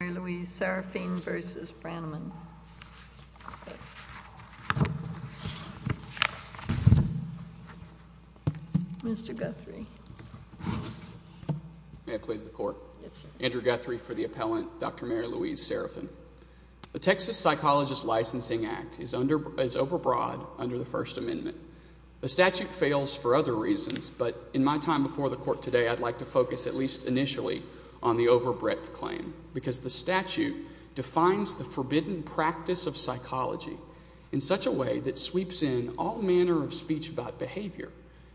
Dr. Mary Louise Serafine v. Tim Branaman Mr. Guthrie May I please the court? Yes, sir. Andrew Guthrie for the appellant, Dr. Mary Louise Serafine. The Texas Psychologist Licensing Act is overbroad under the First Amendment. The statute fails for other reasons, but in my time before the court today, I'd like to focus at least initially on the overbreadth claim, because the statute defines the forbidden practice of psychology in such a way that sweeps in all manner of speech about behavior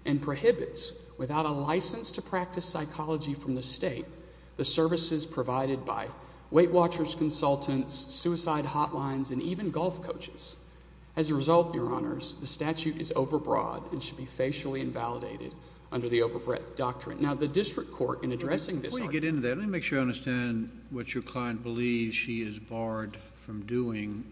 and prohibits, without a license to practice psychology from the state, the services provided by Weight Watchers Consultants, suicide hotlines, and even golf coaches. As a result, Your Honors, the statute is overbroad and should be facially invalidated under the overbreadth doctrine. Now, the district court in addressing this argument Before you get into that, let me make sure I understand what your client believes she is barred from doing.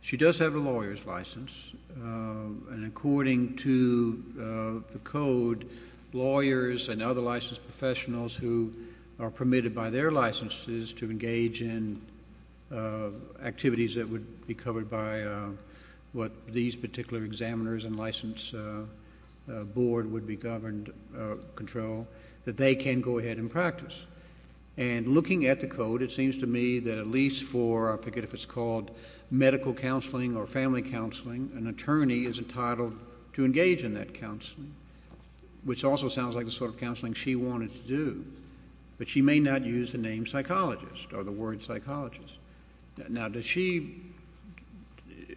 She does have a lawyer's license, and according to the code, lawyers and other licensed professionals who are permitted by their licenses to engage in activities that would be covered by what these particular examiners and licensed board would be governed control, that they can go ahead and practice. And looking at the code, it seems to me that at least for, I forget if it's called medical counseling or family counseling, an attorney is entitled to engage in that counseling, which also sounds like the sort of counseling she wanted to do. But she may not use the name psychologist or the word psychologist. Now, does she,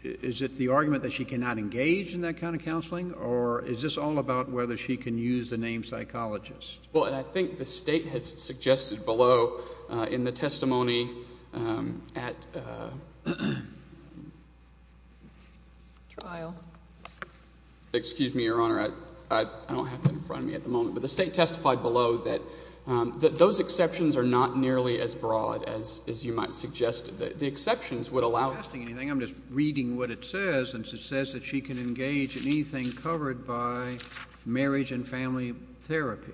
is it the argument that she cannot engage in that kind of counseling, or is this all about whether she can use the name psychologist? Well, and I think the State has suggested below in the testimony at Trial. Excuse me, Your Honor. I don't have it in front of me at the moment, but as you might suggest, the exceptions would allow it. I'm not asking anything. I'm just reading what it says. It says that she can engage in anything covered by marriage and family therapy.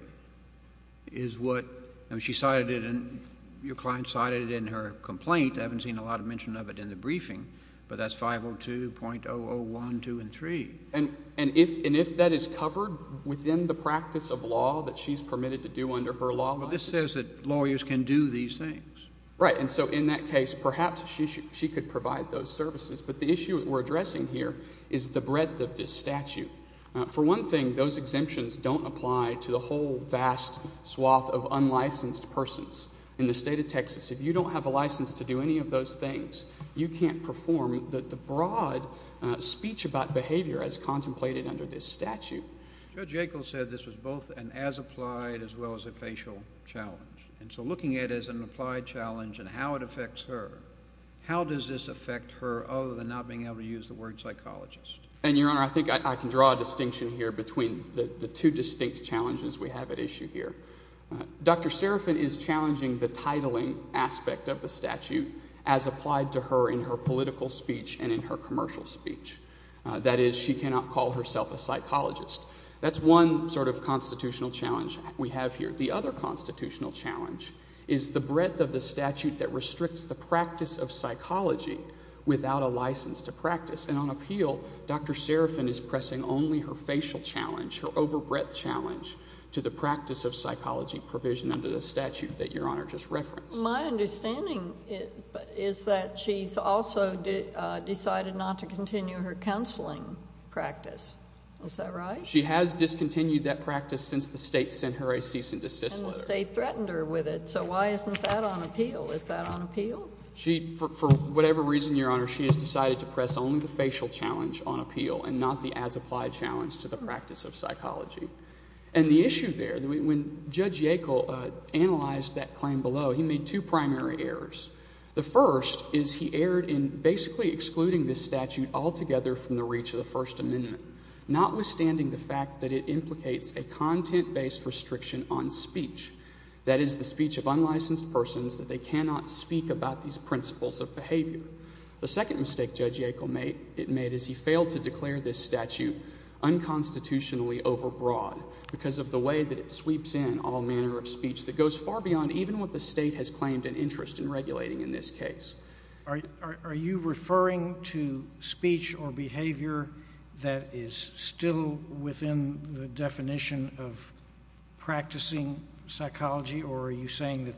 Is what, I mean, she cited it in, your client cited it in her complaint. I haven't seen a lot of mention of it in the briefing, but that's 502.001, 2, and 3. And if that is covered within the practice of law that she's permitted to do under her law license? Well, this says that lawyers can do these things. Right. And so in that case, perhaps she could provide those services. But the issue that we're addressing here is the breadth of this statute. For one thing, those exemptions don't apply to the whole vast swath of unlicensed persons. In the State of Texas, if you don't have a license to do any of those things, you can't perform the broad speech about behavior as contemplated under this statute. Judge Yackel said this was both an as-applied as well as a facial challenge. And so looking at it as an applied challenge and how it affects her, how does this affect her other than not being able to use the word psychologist? And, Your Honor, I think I can draw a distinction here between the two distinct challenges we have at issue here. Dr. Serafin is challenging the titling aspect of the statute as applied to her in her political speech and in her commercial speech. That is, she cannot call herself a psychologist. That's one sort of constitutional challenge we have here. The other constitutional challenge is the breadth of the statute that restricts the practice of psychology without a license to practice. And on appeal, Dr. Serafin is pressing only her facial challenge, her overbreadth challenge, to the practice of psychology provision under the statute that Your Honor just referenced. My understanding is that she's also decided not to continue her counseling practice. Is that right? She has discontinued that practice since the state sent her a cease and desist letter. And the state threatened her with it. So why isn't that on appeal? Is that on appeal? For whatever reason, Your Honor, she has decided to press only the facial challenge on appeal and not the as-applied challenge to the practice of psychology. And the issue there, when Judge Yackel analyzed that claim below, he made two primary errors. The first is he erred in basically excluding this statute altogether from the reach of the First Amendment, notwithstanding the fact that it implicates a content-based restriction on speech, that is, the speech of unlicensed persons that they cannot speak about these principles of behavior. The second mistake Judge Yackel made is he failed to declare this statute unconstitutionally overbroad because of the way that it sweeps in all manner of speech that goes far beyond even what the state has claimed an interest in regulating in this case. Are you referring to speech or behavior that is still within the definition of practicing psychology, or are you saying that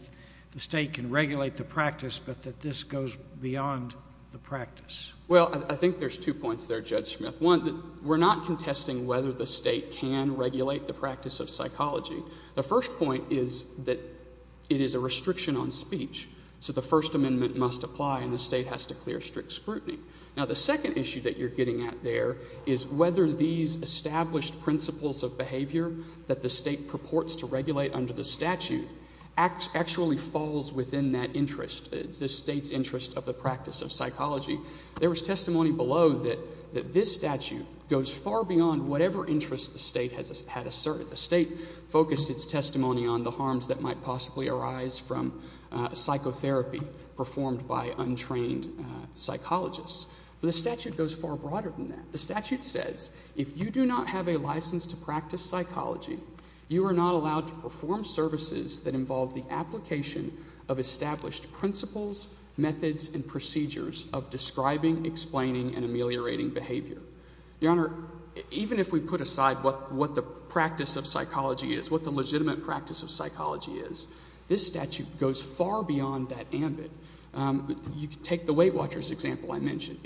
the state can regulate the practice but that this goes beyond the practice? Well, I think there's two points there, Judge Smith. One, we're not contesting whether the state can regulate the practice of psychology. The first point is that it is a restriction on speech, so the First Amendment must apply and the state has to clear strict scrutiny. Now, the second issue that you're getting at there is whether these established principles of behavior that the state purports to regulate under the statute actually falls within that interest, the state's interest of the practice of psychology. There was testimony below that this statute goes far beyond whatever interest the state had asserted. The state focused its testimony on the harms that might possibly arise from psychotherapy performed by untrained psychologists. But the statute goes far broader than that. The statute says if you do not have a license to practice psychology, you are not allowed to perform services that involve the application of established principles, methods, and procedures of describing, explaining, and ameliorating behavior. Your Honor, even if we put aside what the practice of psychology is, what the legitimate practice of psychology is, this statute goes far beyond that ambit. You can take the Weight Watchers example I mentioned.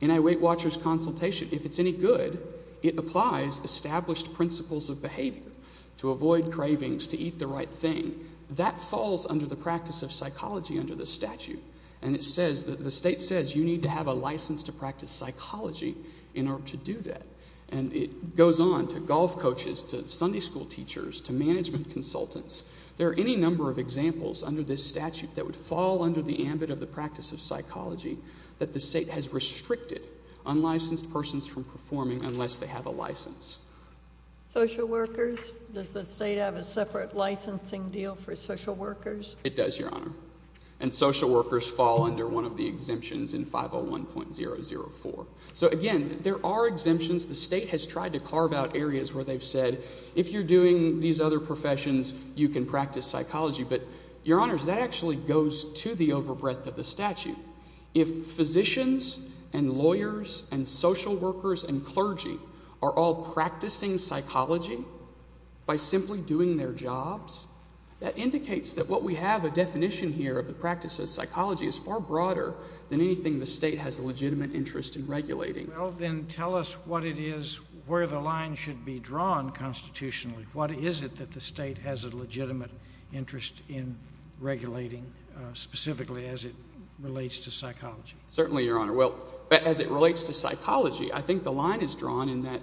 In a Weight Watchers consultation, if it's any good, it applies established principles of behavior to avoid cravings, to eat the right thing. That falls under the practice of psychology under the statute. And it says that the state says you need to have a license to practice psychology in order to do that. And it goes on to golf coaches, to Sunday school teachers, to management consultants. There are any number of examples under this statute that would fall under the ambit of the practice of psychology that the state has restricted unlicensed persons from performing unless they have a license. Social workers? Does the state have a separate licensing deal for social workers? It does, Your Honor. And social workers fall under one of the exemptions in 501.004. So again, there are exemptions. The state has tried to carve out areas where they've said if you're doing these other professions, you can practice psychology. But, Your Honors, that actually goes to the overbreadth of the statute. If physicians and lawyers and social workers and clergy are all practicing psychology by simply doing their jobs, that indicates that what we have, a definition here of the practice of psychology, is far broader than anything the state has a legitimate interest in regulating. Well, then tell us what it is where the line should be drawn constitutionally. What is it that the state has a legitimate interest in regulating specifically as it relates to psychology? Certainly, Your Honor. Well, as it relates to psychology, I think the line is drawn in that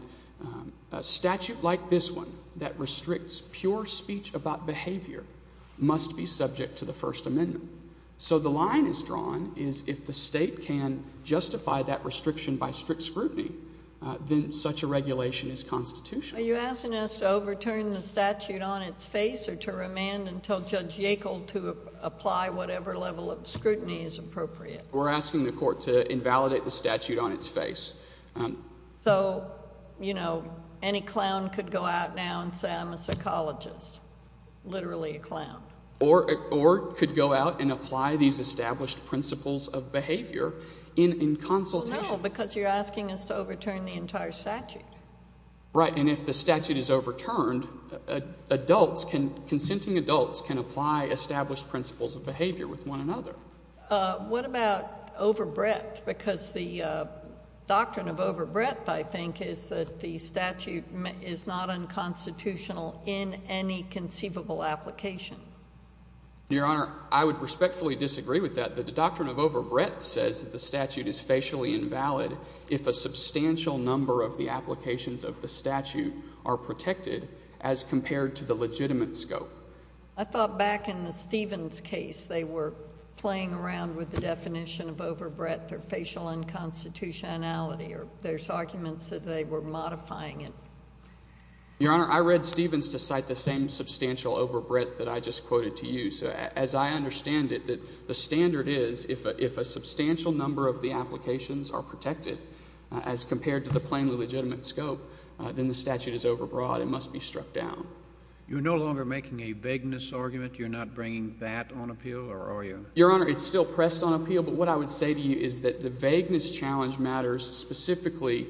a statute like this one that restricts pure speech about behavior must be subject to the First Amendment. So the line is drawn is if the state can justify that restriction by strict scrutiny, then such a regulation is constitutional. Are you asking us to overturn the statute on its face or to remand and tell Judge Yackel to apply whatever level of scrutiny is appropriate? We're asking the court to invalidate the statute on its face. So, you know, any clown could go out now and say I'm a psychologist, literally a clown. Or could go out and apply these established principles of behavior in consultation. No, because you're asking us to overturn the entire statute. Right. And if the statute is overturned, adults can, consenting adults can apply established principles of behavior with one another. What about overbreadth? Because the doctrine of overbreadth, I think, is that the statute is not unconstitutional in any conceivable application. Your Honor, I would respectfully disagree with that. The doctrine of overbreadth says that the statute is facially invalid if a substantial number of the applications of the statute are protected as compared to the legitimate scope. I thought back in the Stevens case they were playing around with the definition of overbreadth or facial unconstitutionality or there's arguments that they were modifying it. Your Honor, I read Stevens to cite the same substantial overbreadth that I just quoted to you. So as I understand it, the standard is if a substantial number of the applications are protected as compared to the plainly legitimate scope, then the statute is overbroad and must be struck down. You're no longer making a vagueness argument? You're not bringing that on appeal or are you? Your Honor, it's still pressed on appeal. But what I would say to you is that the vagueness challenge matters specifically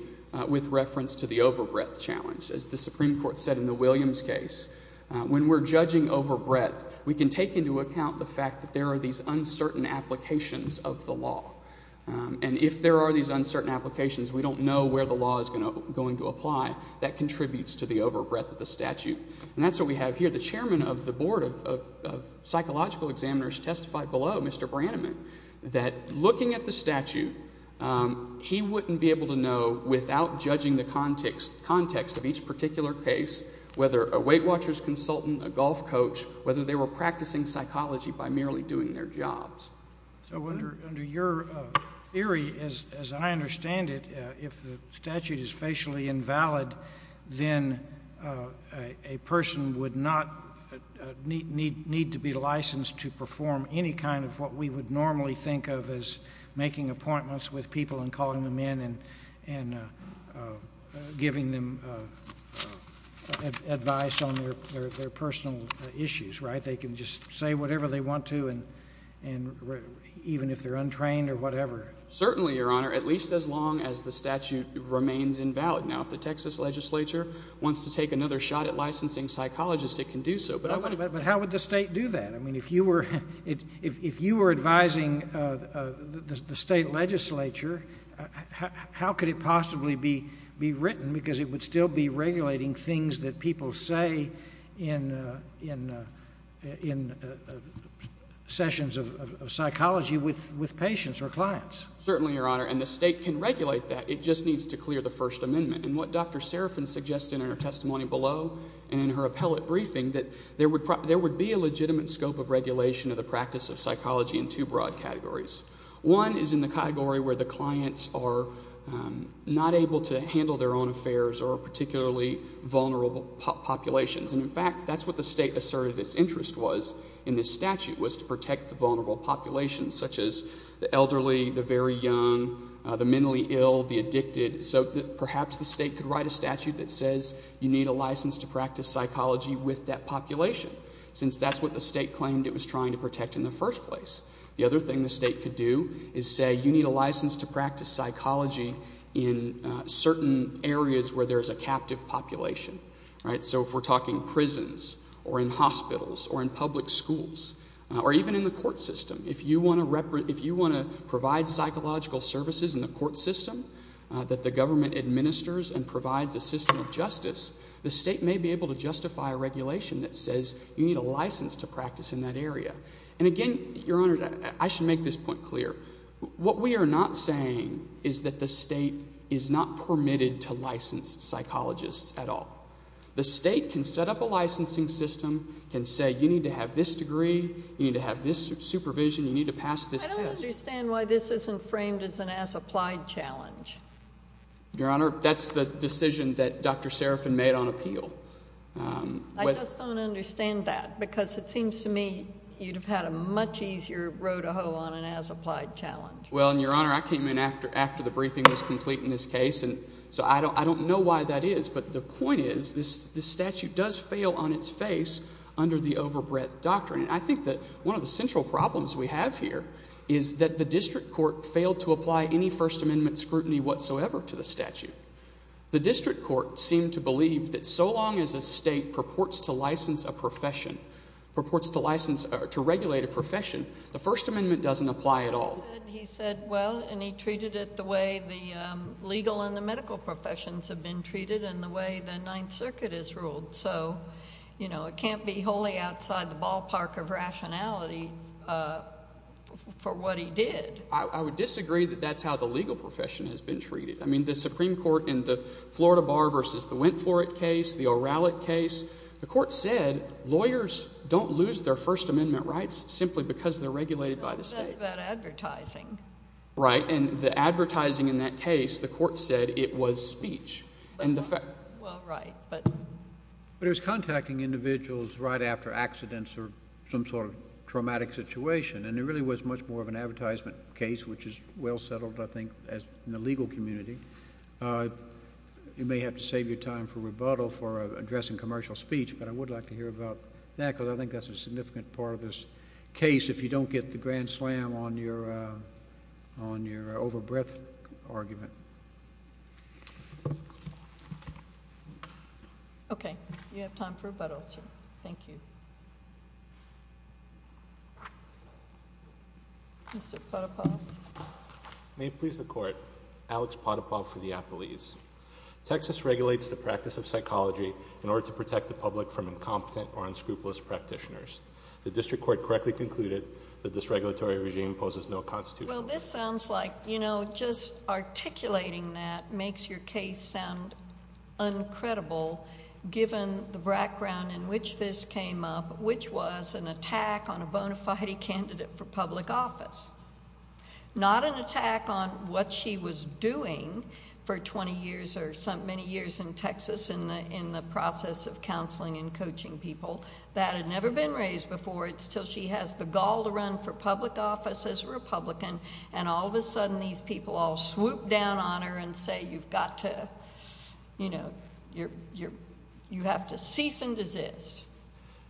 with reference to the overbreadth challenge. As the Supreme Court said in the Williams case, when we're judging overbreadth, we can take into account the fact that there are these uncertain applications of the law. And if there are these uncertain applications, we don't know where the law is going to apply. That contributes to the overbreadth of the statute. And that's what we have here. The chairman of the board of psychological examiners testified below, Mr. Branaman, that looking at the statute, he wouldn't be able to know without judging the context of each particular case whether a weight watcher's consultant, a golf coach, whether they were practicing psychology by merely doing their jobs. So under your theory, as I understand it, if the statute is facially invalid, then a person would not need to be licensed to perform any kind of what we would normally think of as making appointments with people and calling them in and giving them advice on their personal issues, right? That they can just say whatever they want to and even if they're untrained or whatever. Certainly, Your Honor, at least as long as the statute remains invalid. Now, if the Texas legislature wants to take another shot at licensing psychologists, it can do so. But how would the state do that? I mean, if you were advising the state legislature, how could it possibly be written? Because it would still be regulating things that people say in sessions of psychology with patients or clients. Certainly, Your Honor. And the state can regulate that. It just needs to clear the First Amendment. And what Dr. Serafin suggested in her testimony below and in her appellate briefing, that there would be a legitimate scope of regulation of the practice of psychology in two broad categories. One is in the category where the clients are not able to handle their own affairs or are particularly vulnerable populations. And, in fact, that's what the state asserted its interest was in this statute was to protect the vulnerable populations such as the elderly, the very young, the mentally ill, the addicted. So perhaps the state could write a statute that says you need a license to practice psychology with that population since that's what the state claimed it was trying to protect in the first place. The other thing the state could do is say you need a license to practice psychology in certain areas where there's a captive population. So if we're talking prisons or in hospitals or in public schools or even in the court system, if you want to provide psychological services in the court system, that the government administers and provides a system of justice, the state may be able to justify a regulation that says you need a license to practice in that area. And, again, Your Honor, I should make this point clear. What we are not saying is that the state is not permitted to license psychologists at all. The state can set up a licensing system, can say you need to have this degree, you need to have this supervision, you need to pass this test. I don't understand why this isn't framed as an as-applied challenge. Your Honor, that's the decision that Dr. Serafin made on appeal. I just don't understand that because it seems to me you'd have had a much easier row to hoe on an as-applied challenge. Well, Your Honor, I came in after the briefing was complete in this case, and so I don't know why that is. But the point is this statute does fail on its face under the overbreadth doctrine. I think that one of the central problems we have here is that the district court failed to apply any First Amendment scrutiny whatsoever to the statute. The district court seemed to believe that so long as a state purports to license a profession, purports to license or to regulate a profession, the First Amendment doesn't apply at all. He said well, and he treated it the way the legal and the medical professions have been treated and the way the Ninth Circuit is ruled. So it can't be wholly outside the ballpark of rationality for what he did. I would disagree that that's how the legal profession has been treated. I mean the Supreme Court in the Florida Bar v. the Wentforth case, the O'Reilly case, the court said lawyers don't lose their First Amendment rights simply because they're regulated by the state. That's about advertising. Right, and the advertising in that case, the court said it was speech. Well, right. But it was contacting individuals right after accidents or some sort of traumatic situation. And it really was much more of an advertisement case, which is well settled, I think, in the legal community. You may have to save your time for rebuttal for addressing commercial speech, but I would like to hear about that because I think that's a significant part of this case if you don't get the grand slam on your overbreadth argument. Okay. You have time for rebuttal, sir. Thank you. Mr. Potipoff. May it please the Court, Alex Potipoff for the Appellees. Texas regulates the practice of psychology in order to protect the public from incompetent or unscrupulous practitioners. The district court correctly concluded that this regulatory regime imposes no constitutional. Well, this sounds like, you know, just articulating that makes your case sound uncredible given the background in which this came up, which was an attack on a bona fide candidate for public office. Not an attack on what she was doing for 20 years or many years in Texas in the process of counseling and coaching people. That had never been raised before. It's until she has the gall to run for public office as a Republican and all of a sudden these people all swoop down on her and say you've got to, you know, you have to cease and desist.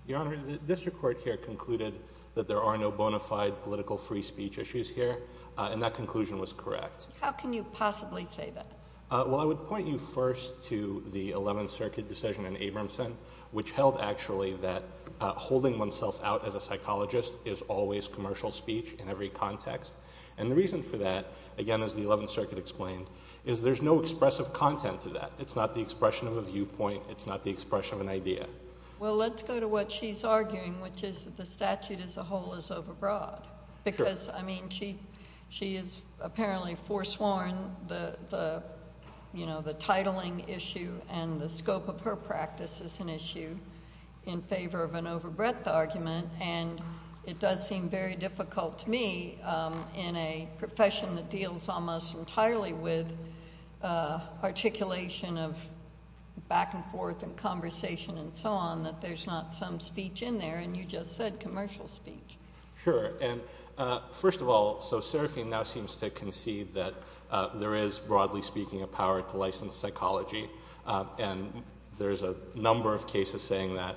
Your Honor, the district court here concluded that there are no bona fide political free speech issues here, and that conclusion was correct. How can you possibly say that? Well, I would point you first to the Eleventh Circuit decision in Abramson, which held actually that holding oneself out as a psychologist is always commercial speech in every context. And the reason for that, again, as the Eleventh Circuit explained, is there's no expressive content to that. It's not the expression of a viewpoint. It's not the expression of an idea. Well, let's go to what she's arguing, which is that the statute as a whole is overbroad. Because, I mean, she has apparently foresworn the, you know, the titling issue and the scope of her practice as an issue in favor of an overbreadth argument. And it does seem very difficult to me in a profession that deals almost entirely with articulation of back and forth and conversation and so on that there's not some speech in there. And you just said commercial speech. Sure. And, first of all, so Serafine now seems to concede that there is, broadly speaking, a power to license psychology. And there's a number of cases saying that,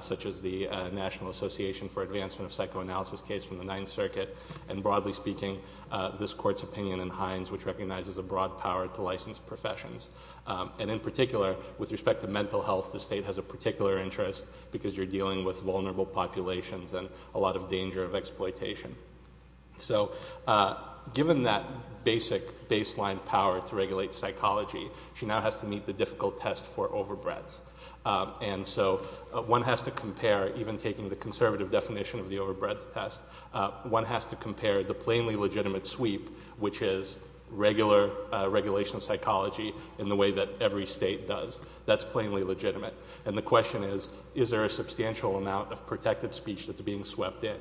such as the National Association for Advancement of Psychoanalysis case from the Ninth Circuit. And, broadly speaking, this Court's opinion in Hines, which recognizes a broad power to license professions. And, in particular, with respect to mental health, the state has a particular interest because you're dealing with vulnerable populations and a lot of danger of exploitation. So, given that basic baseline power to regulate psychology, she now has to meet the difficult test for overbreadth. And so one has to compare, even taking the conservative definition of the overbreadth test, one has to compare the plainly legitimate sweep, which is regular regulation of psychology in the way that every state does. That's plainly legitimate. And the question is, is there a substantial amount of protected speech that's being swept in?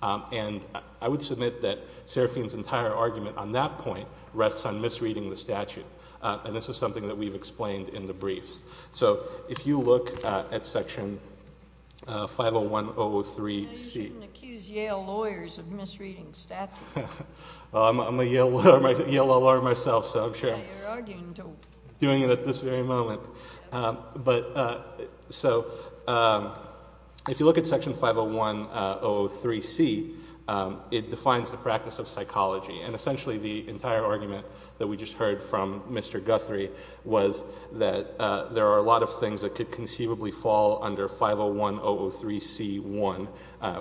And I would submit that Serafine's entire argument on that point rests on misreading the statute. And this is something that we've explained in the briefs. So, if you look at Section 501.003.C. You shouldn't accuse Yale lawyers of misreading statute. Well, I'm a Yale lawyer myself, so I'm sure. Yeah, you're arguing to. I'm doing it at this very moment. So, if you look at Section 501.003.C, it defines the practice of psychology. And essentially the entire argument that we just heard from Mr. Guthrie was that there are a lot of things that could conceivably fall under 501.003.C.1,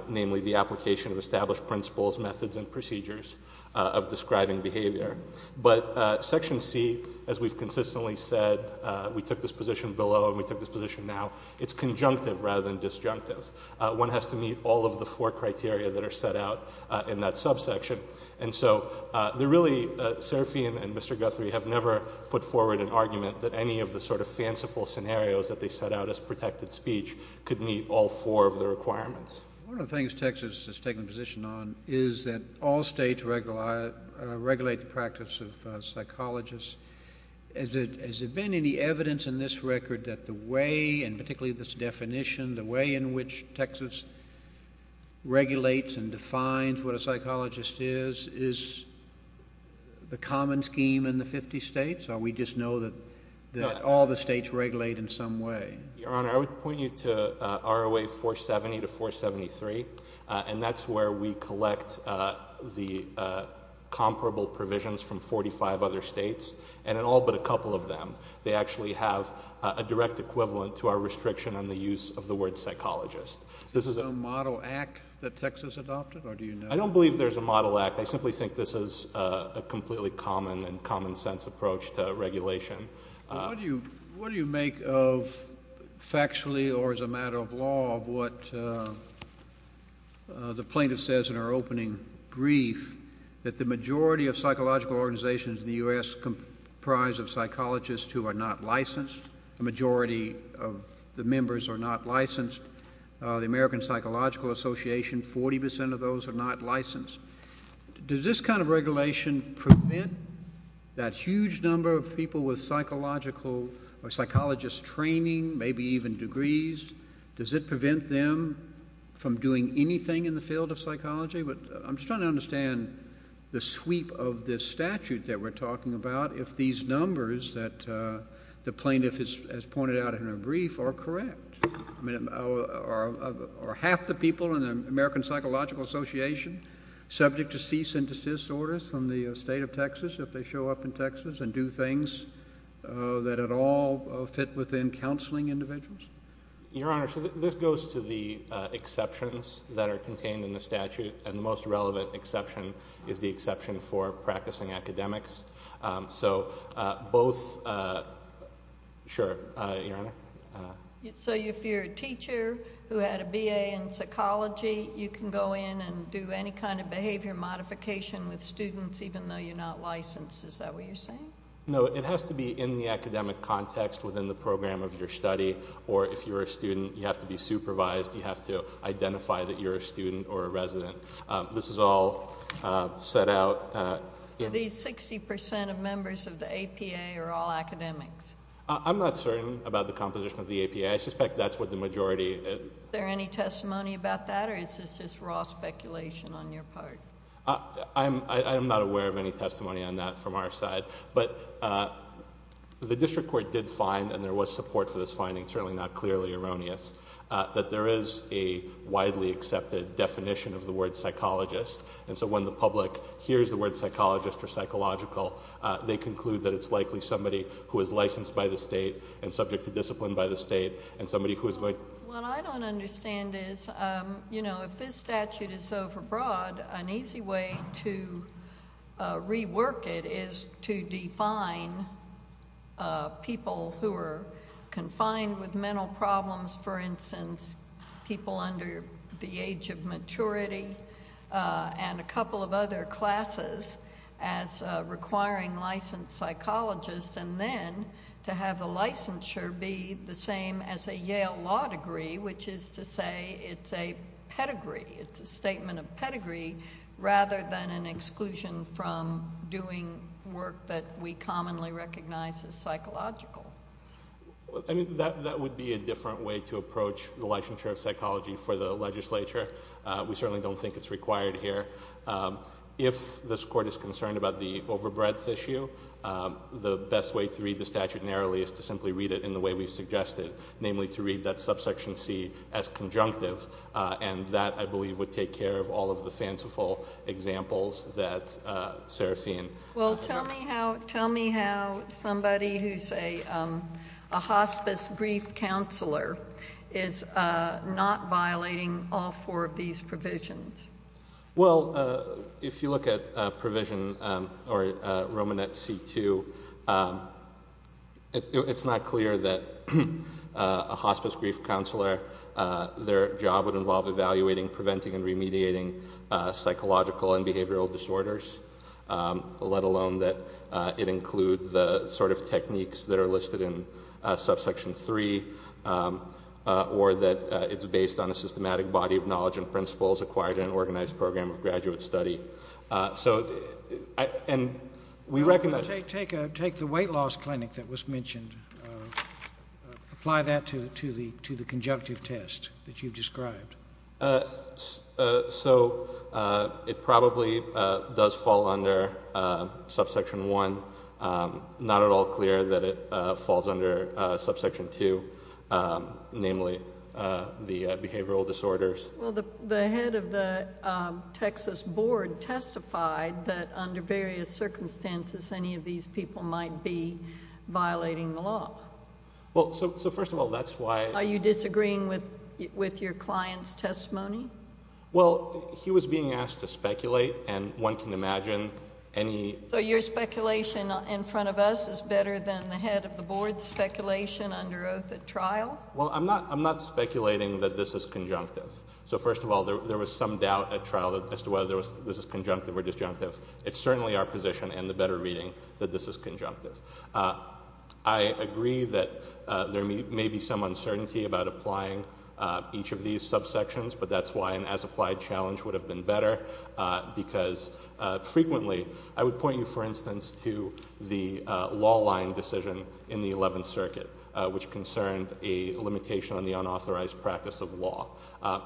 namely the application of established principles, methods, and procedures of describing behavior. But Section C, as we've consistently said, we took this position below and we took this position now, it's conjunctive rather than disjunctive. One has to meet all of the four criteria that are set out in that subsection. And so, really, Serafine and Mr. Guthrie have never put forward an argument that any of the sort of fanciful scenarios that they set out as protected speech could meet all four of the requirements. One of the things Texas has taken a position on is that all states regulate the practice of psychologists. Has there been any evidence in this record that the way, and particularly this definition, the way in which Texas regulates and defines what a psychologist is, is the common scheme in the 50 states? Or we just know that all the states regulate in some way? Your Honor, I would point you to ROA 470 to 473. And that's where we collect the comparable provisions from 45 other states. And in all but a couple of them, they actually have a direct equivalent to our restriction on the use of the word psychologist. Is there a model act that Texas adopted, or do you know? I don't believe there's a model act. I simply think this is a completely common and common sense approach to regulation. What do you make of factually or as a matter of law of what the plaintiff says in her opening brief, that the majority of psychological organizations in the U.S. comprise of psychologists who are not licensed? The majority of the members are not licensed. The American Psychological Association, 40% of those are not licensed. Does this kind of regulation prevent that huge number of people with psychological or psychologist training, maybe even degrees? Does it prevent them from doing anything in the field of psychology? I'm just trying to understand the sweep of this statute that we're talking about, if these numbers that the plaintiff has pointed out in her brief are correct. I mean, are half the people in the American Psychological Association subject to cease and desist orders from the state of Texas if they show up in Texas and do things that at all fit within counseling individuals? Your Honor, so this goes to the exceptions that are contained in the statute, and the most relevant exception is the exception for practicing academics. So both, sure, Your Honor. So if you're a teacher who had a BA in psychology, you can go in and do any kind of behavior modification with students even though you're not licensed, is that what you're saying? No, it has to be in the academic context within the program of your study, or if you're a student, you have to be supervised, you have to identify that you're a student or a resident. This is all set out. So these 60% of members of the APA are all academics? I'm not certain about the composition of the APA. I suspect that's what the majority is. Is there any testimony about that, or is this just raw speculation on your part? I'm not aware of any testimony on that from our side. But the district court did find, and there was support for this finding, certainly not clearly erroneous, that there is a widely accepted definition of the word psychologist. And so when the public hears the word psychologist or psychological, they conclude that it's likely somebody who is licensed by the state and subject to discipline by the state and somebody who is going to— If this statute is overbroad, an easy way to rework it is to define people who are confined with mental problems, for instance, people under the age of maturity, and a couple of other classes as requiring licensed psychologists. And then to have the licensure be the same as a Yale law degree, which is to say it's a pedigree, it's a statement of pedigree, rather than an exclusion from doing work that we commonly recognize as psychological. That would be a different way to approach the licensure of psychology for the legislature. We certainly don't think it's required here. If this court is concerned about the overbreadth issue, the best way to read the statute narrowly is to simply read it in the way we've suggested, namely to read that subsection C as conjunctive. And that, I believe, would take care of all of the fanciful examples that Serafine— Well, tell me how somebody who's a hospice grief counselor is not violating all four of these provisions. Well, if you look at provision, or Romanet C-2, it's not clear that a hospice grief counselor, their job would involve evaluating, preventing, and remediating psychological and behavioral disorders, let alone that it include the sort of techniques that are listed in subsection 3, or that it's based on a systematic body of knowledge and principles acquired in an organized program of graduate study. So, and we recognize— Take the weight loss clinic that was mentioned. Apply that to the conjunctive test that you've described. So it probably does fall under subsection 1. Not at all clear that it falls under subsection 2, namely the behavioral disorders. Well, the head of the Texas board testified that under various circumstances, any of these people might be violating the law. Well, so first of all, that's why— Are you disagreeing with your client's testimony? Well, he was being asked to speculate, and one can imagine any— So your speculation in front of us is better than the head of the board's speculation under oath at trial? Well, I'm not speculating that this is conjunctive. So first of all, there was some doubt at trial as to whether this is conjunctive or disjunctive. It's certainly our position, and the better reading, that this is conjunctive. I agree that there may be some uncertainty about applying each of these subsections, but that's why an as-applied challenge would have been better, because frequently— I would point you, for instance, to the law line decision in the 11th Circuit, which concerned a limitation on the unauthorized practice of law.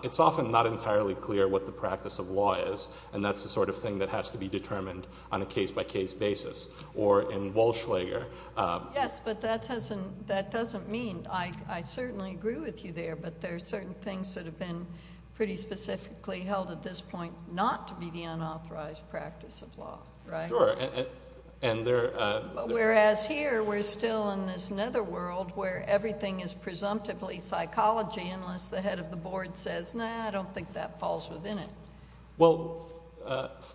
It's often not entirely clear what the practice of law is, and that's the sort of thing that has to be determined on a case-by-case basis. Or in Walsh-Lager— Yes, but that doesn't mean—I certainly agree with you there, but there are certain things that have been pretty specifically held at this point not to be the unauthorized practice of law, right? Sure, and there— Whereas here, we're still in this netherworld where everything is presumptively psychology, unless the head of the board says, no, I don't think that falls within it. Well,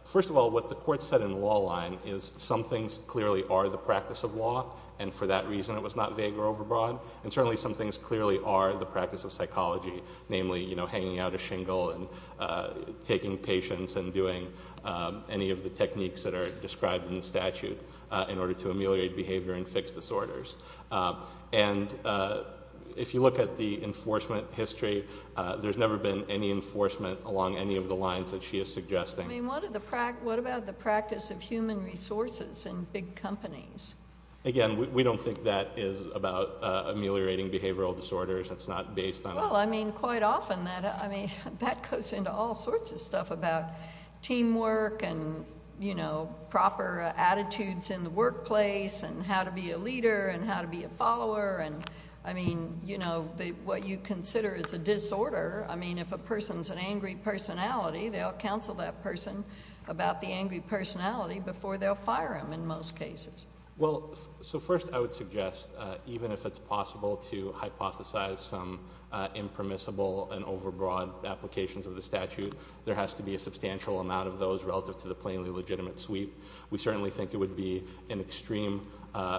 first of all, what the Court said in the law line is some things clearly are the practice of law, and for that reason it was not vague or overbroad, and certainly some things clearly are the practice of psychology, namely hanging out a shingle and taking patients and doing any of the techniques that are described in the statute in order to ameliorate behavior and fix disorders. And if you look at the enforcement history, there's never been any enforcement along any of the lines that she is suggesting. I mean, what about the practice of human resources in big companies? Again, we don't think that is about ameliorating behavioral disorders. It's not based on— Well, I mean, quite often that goes into all sorts of stuff about teamwork and, you know, proper attitudes in the workplace and how to be a leader and how to be a follower. I mean, you know, what you consider is a disorder, I mean, if a person is an angry personality, they'll counsel that person about the angry personality before they'll fire them in most cases. Well, so first I would suggest, even if it's possible to hypothesize some impermissible and overbroad applications of the statute, there has to be a substantial amount of those relative to the plainly legitimate suite. We certainly think it would be an extreme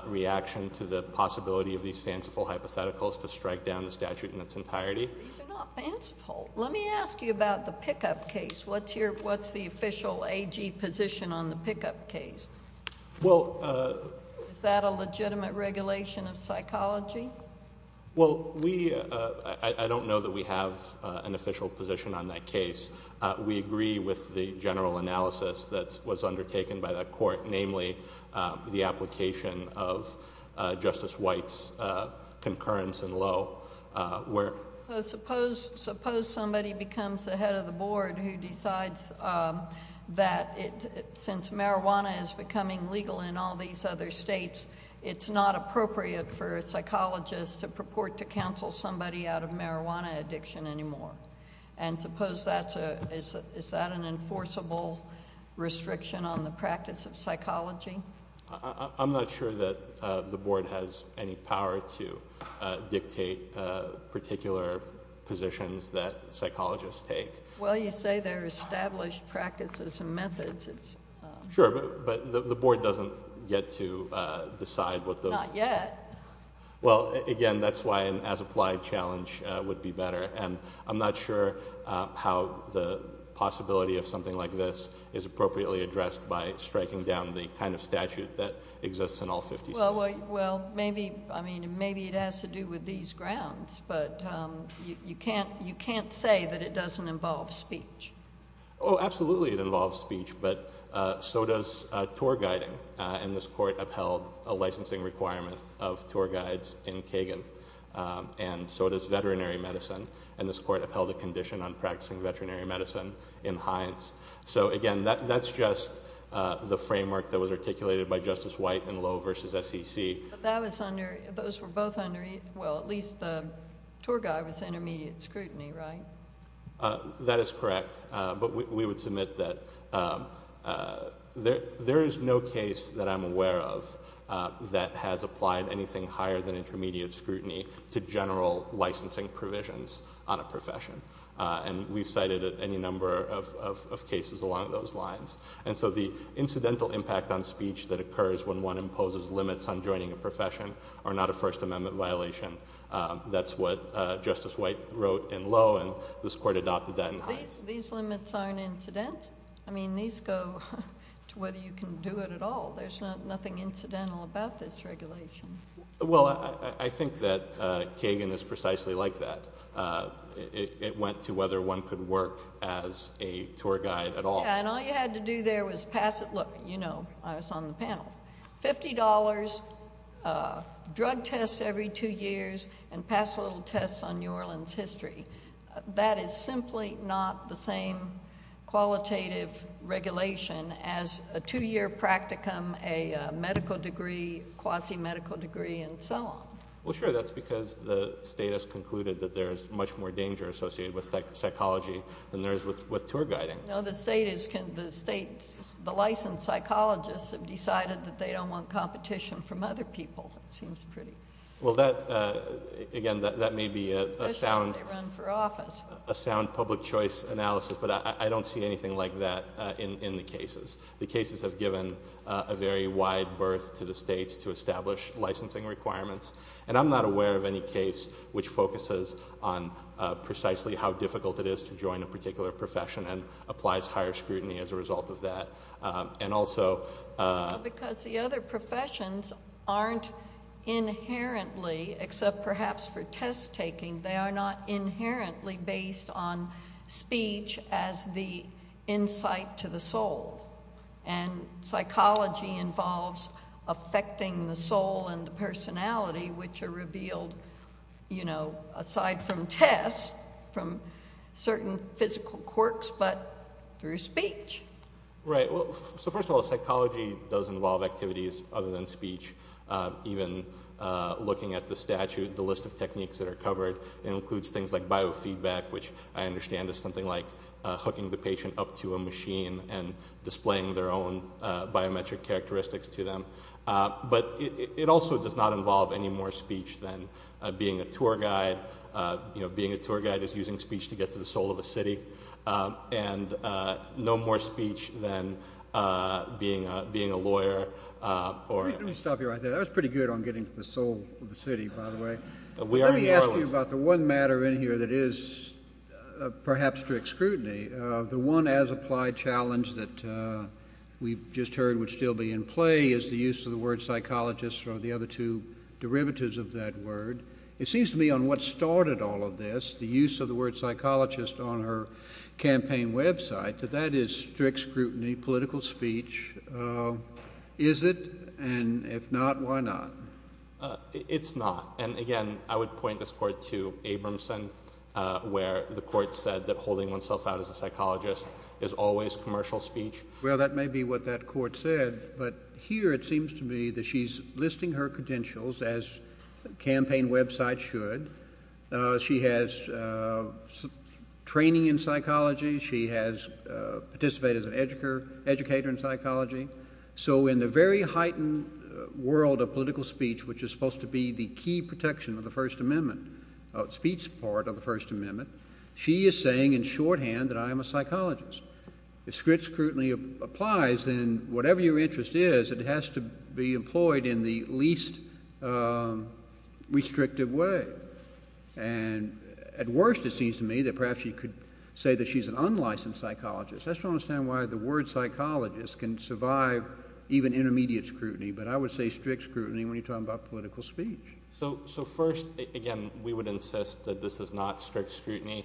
reaction to the possibility of these fanciful hypotheticals to strike down the statute in its entirety. These are not fanciful. Let me ask you about the pickup case. What's the official AG position on the pickup case? Well— Is that a legitimate regulation of psychology? Well, we—I don't know that we have an official position on that case. We agree with the general analysis that was undertaken by the court, namely the application of Justice White's concurrence in Lowe. So suppose somebody becomes the head of the board who decides that since marijuana is becoming legal in all these other states, it's not appropriate for a psychologist to purport to counsel somebody out of marijuana addiction anymore. And suppose that's a—is that an enforceable restriction on the practice of psychology? I'm not sure that the board has any power to dictate particular positions that psychologists take. Well, you say there are established practices and methods. Sure, but the board doesn't get to decide what those— Not yet. Well, again, that's why an as-applied challenge would be better. And I'm not sure how the possibility of something like this is appropriately addressed by striking down the kind of statute that exists in all 50 states. Well, maybe—I mean, maybe it has to do with these grounds, but you can't say that it doesn't involve speech. Oh, absolutely it involves speech, but so does tour guiding, and this court upheld a licensing requirement of tour guides in Kagan. And so does veterinary medicine, and this court upheld a condition on practicing veterinary medicine in Hines. So, again, that's just the framework that was articulated by Justice White in Lowe v. SEC. But that was under—those were both under—well, at least the tour guide was intermediate scrutiny, right? That is correct, but we would submit that there is no case that I'm aware of that has applied anything higher than intermediate scrutiny to general licensing provisions on a profession. And we've cited any number of cases along those lines. And so the incidental impact on speech that occurs when one imposes limits on joining a profession are not a First Amendment violation. That's what Justice White wrote in Lowe, and this court adopted that in Hines. These limits aren't incident. I mean, these go to whether you can do it at all. There's nothing incidental about this regulation. Well, I think that Kagan is precisely like that. It went to whether one could work as a tour guide at all. Yeah, and all you had to do there was pass it. You know, I was on the panel. Fifty dollars, drug tests every two years, and pass a little test on New Orleans history. That is simply not the same qualitative regulation as a two-year practicum, a medical degree, quasi-medical degree, and so on. Well, sure, that's because the state has concluded that there is much more danger associated with psychology than there is with tour guiding. No, the state is—the licensed psychologists have decided that they don't want competition from other people. It seems pretty— Well, again, that may be a sound public choice analysis, but I don't see anything like that in the cases. The cases have given a very wide berth to the states to establish licensing requirements, and I'm not aware of any case which focuses on precisely how difficult it is to join a particular profession and applies higher scrutiny as a result of that. And also— Because the other professions aren't inherently, except perhaps for test-taking, they are not inherently based on speech as the insight to the soul. And psychology involves affecting the soul and the personality, which are revealed, you know, aside from tests, from certain physical quirks, but through speech. Right. Well, so first of all, psychology does involve activities other than speech, even looking at the statute, the list of techniques that are covered. It includes things like biofeedback, which I understand is something like hooking the patient up to a machine and displaying their own biometric characteristics to them. But it also does not involve any more speech than being a tour guide. You know, being a tour guide is using speech to get to the soul of a city, and no more speech than being a lawyer or— Let me stop you right there. That was pretty good on getting to the soul of the city, by the way. Let me ask you about the one matter in here that is perhaps strict scrutiny. The one as-applied challenge that we've just heard would still be in play is the use of the word psychologist or the other two derivatives of that word. It seems to me on what started all of this, the use of the word psychologist on her campaign website, that that is strict scrutiny, political speech. Is it? And if not, why not? It's not. And again, I would point this court to Abramson, where the court said that holding oneself out as a psychologist is always commercial speech. Well, that may be what that court said, but here it seems to me that she's listing her credentials, as campaign websites should. She has training in psychology. She has participated as an educator in psychology. So in the very heightened world of political speech, which is supposed to be the key protection of the First Amendment, of speech part of the First Amendment, she is saying in shorthand that I am a psychologist. If strict scrutiny applies, then whatever your interest is, it has to be employed in the least restrictive way. And at worst, it seems to me that perhaps she could say that she's an unlicensed psychologist. I just don't understand why the word psychologist can survive even intermediate scrutiny. But I would say strict scrutiny when you're talking about political speech. So first, again, we would insist that this is not strict scrutiny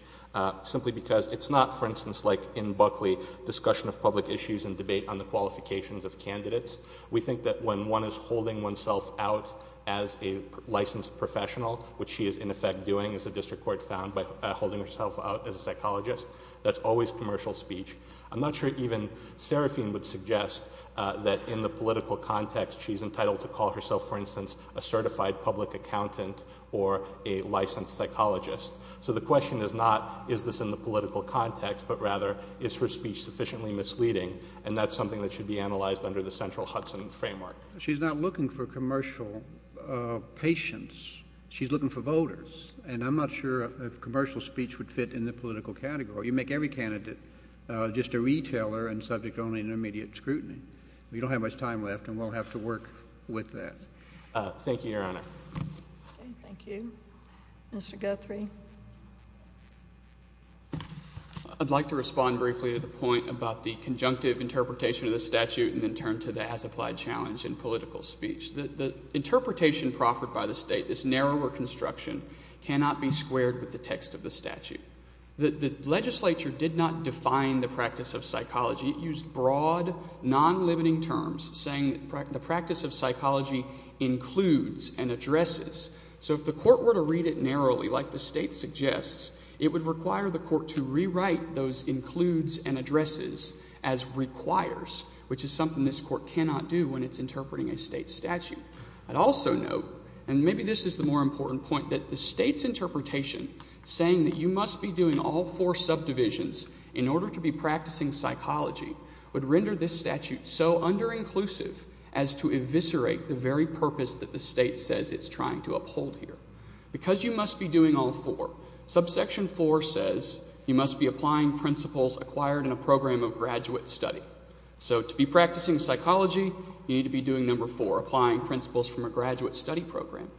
simply because it's not, for instance, like in Buckley, discussion of public issues and debate on the qualifications of candidates. We think that when one is holding oneself out as a licensed professional, which she is in effect doing, as the district court found, by holding herself out as a psychologist, that's always commercial speech. I'm not sure even Serafine would suggest that in the political context she's entitled to call herself, for instance, a certified public accountant or a licensed psychologist. So the question is not is this in the political context, but rather is her speech sufficiently misleading, and that's something that should be analyzed under the central Hudson framework. She's not looking for commercial patience. She's looking for voters. And I'm not sure if commercial speech would fit in the political category. You make every candidate just a retailer and subject only to intermediate scrutiny. We don't have much time left, and we'll have to work with that. Thank you, Your Honor. Okay. Thank you. Mr. Guthrie. I'd like to respond briefly to the point about the conjunctive interpretation of the statute and then turn to the as-applied challenge in political speech. The interpretation proffered by the State, this narrower construction, cannot be squared with the text of the statute. The legislature did not define the practice of psychology. It used broad, non-limiting terms, saying the practice of psychology includes and addresses. So if the court were to read it narrowly, like the State suggests, it would require the court to rewrite those includes and addresses as requires, which is something this court cannot do when it's interpreting a State statute. I'd also note, and maybe this is the more important point, that the State's interpretation, saying that you must be doing all four subdivisions in order to be practicing psychology, would render this statute so under-inclusive as to eviscerate the very purpose that the State says it's trying to uphold here. Because you must be doing all four, subsection four says you must be applying principles acquired in a program of graduate study. So to be practicing psychology, you need to be doing number four, applying principles from a graduate study program.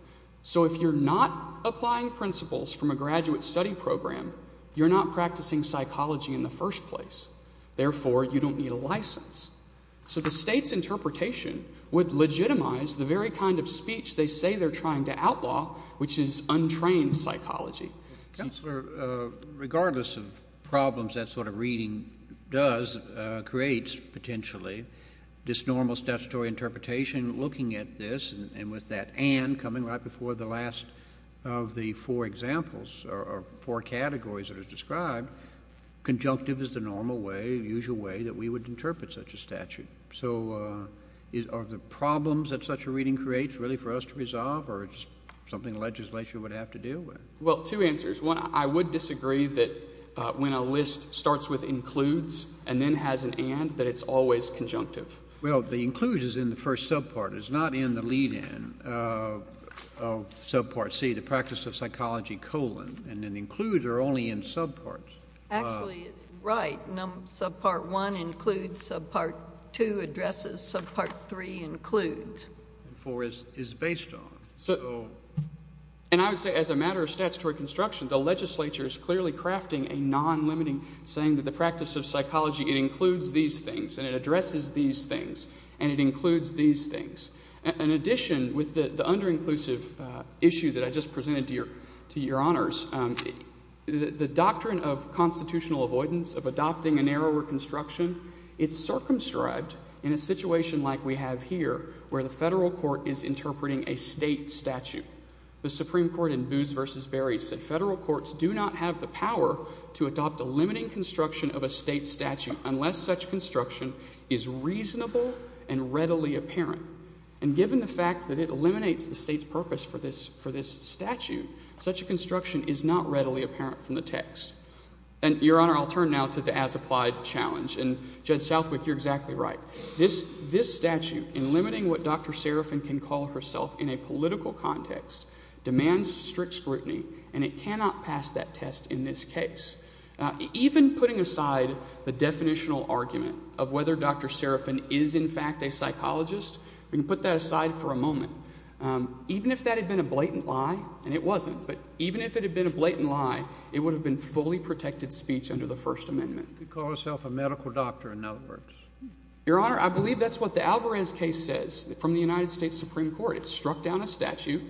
So if you're not applying principles from a graduate study program, you're not practicing psychology in the first place. Therefore, you don't need a license. So the State's interpretation would legitimize the very kind of speech they say they're trying to outlaw, which is untrained psychology. JUSTICE KENNEDY Counselor, regardless of problems that sort of reading does, creates potentially, this normal statutory interpretation looking at this, and with that and coming right before the last of the four examples or four categories that are described, conjunctive is the normal way, the usual way that we would interpret such a statute. So are the problems that such a reading creates really for us to resolve, or is it just something the legislature would have to deal with? MR. GOLDBERG Well, two answers. One, I would disagree that when a list starts with includes and then has an and, that it's always conjunctive. JUSTICE KENNEDY Well, the includes is in the first subpart. It's not in the lead-in of subpart C, the practice of psychology colon, and then includes are only in subparts. JUSTICE GOLDBERG Actually, right. Subpart 1 includes. Subpart 2 addresses. Subpart 3 includes. MR. GOLDBERG And 4 is based on. And I would say as a matter of statutory construction, the legislature is clearly crafting a non-limiting saying that the practice of psychology, it includes these things, and it addresses these things, and it includes these things. In addition, with the under-inclusive issue that I just presented to your honors, the doctrine of constitutional avoidance, of adopting a narrower construction, it's circumscribed in a situation like we have here, where the federal court is interpreting a state statute. The Supreme Court in Boots v. Berry said federal courts do not have the power to adopt a limiting construction of a state statute unless such construction is reasonable and readily apparent. And given the fact that it eliminates the state's purpose for this statute, such a construction is not readily apparent from the text. And, your honor, I'll turn now to the as-applied challenge. And, Judge Southwick, you're exactly right. This statute, in limiting what Dr. Serafin can call herself in a political context, demands strict scrutiny, and it cannot pass that test in this case. Even putting aside the definitional argument of whether Dr. Serafin is, in fact, a psychologist, we can put that aside for a moment. Even if that had been a blatant lie, and it wasn't, but even if it had been a blatant lie, it would have been fully protected speech under the First Amendment. She could call herself a medical doctor in networks. Your honor, I believe that's what the Alvarez case says from the United States Supreme Court. It struck down a statute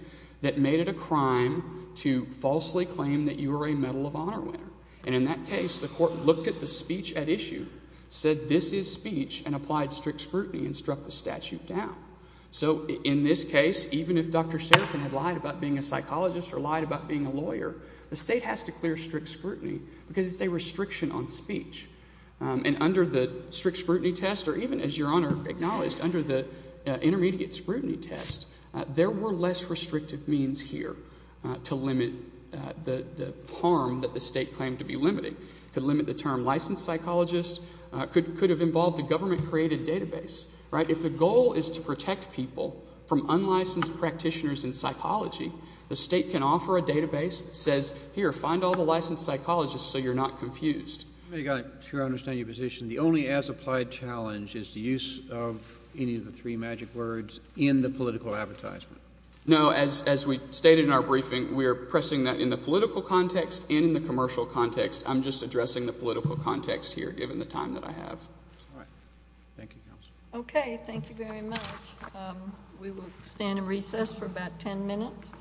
that made it a crime to falsely claim that you were a Medal of Honor winner. And in that case the court looked at the speech at issue, said this is speech, and applied strict scrutiny and struck the statute down. So in this case, even if Dr. Serafin had lied about being a psychologist or lied about being a lawyer, the state has to clear strict scrutiny because it's a restriction on speech. And under the strict scrutiny test, or even as your honor acknowledged, under the intermediate scrutiny test, there were less restrictive means here to limit the harm that the state claimed to be limiting. It could limit the term licensed psychologist. It could have involved a government-created database. If the goal is to protect people from unlicensed practitioners in psychology, the state can offer a database that says, here, find all the licensed psychologists so you're not confused. I've got to understand your position. The only as-applied challenge is the use of any of the three magic words in the political advertisement. No, as we stated in our briefing, we are pressing that in the political context and in the commercial context. I'm just addressing the political context here given the time that I have. All right. Thank you, Counsel. Okay. Thank you very much. We will stand in recess for about ten minutes.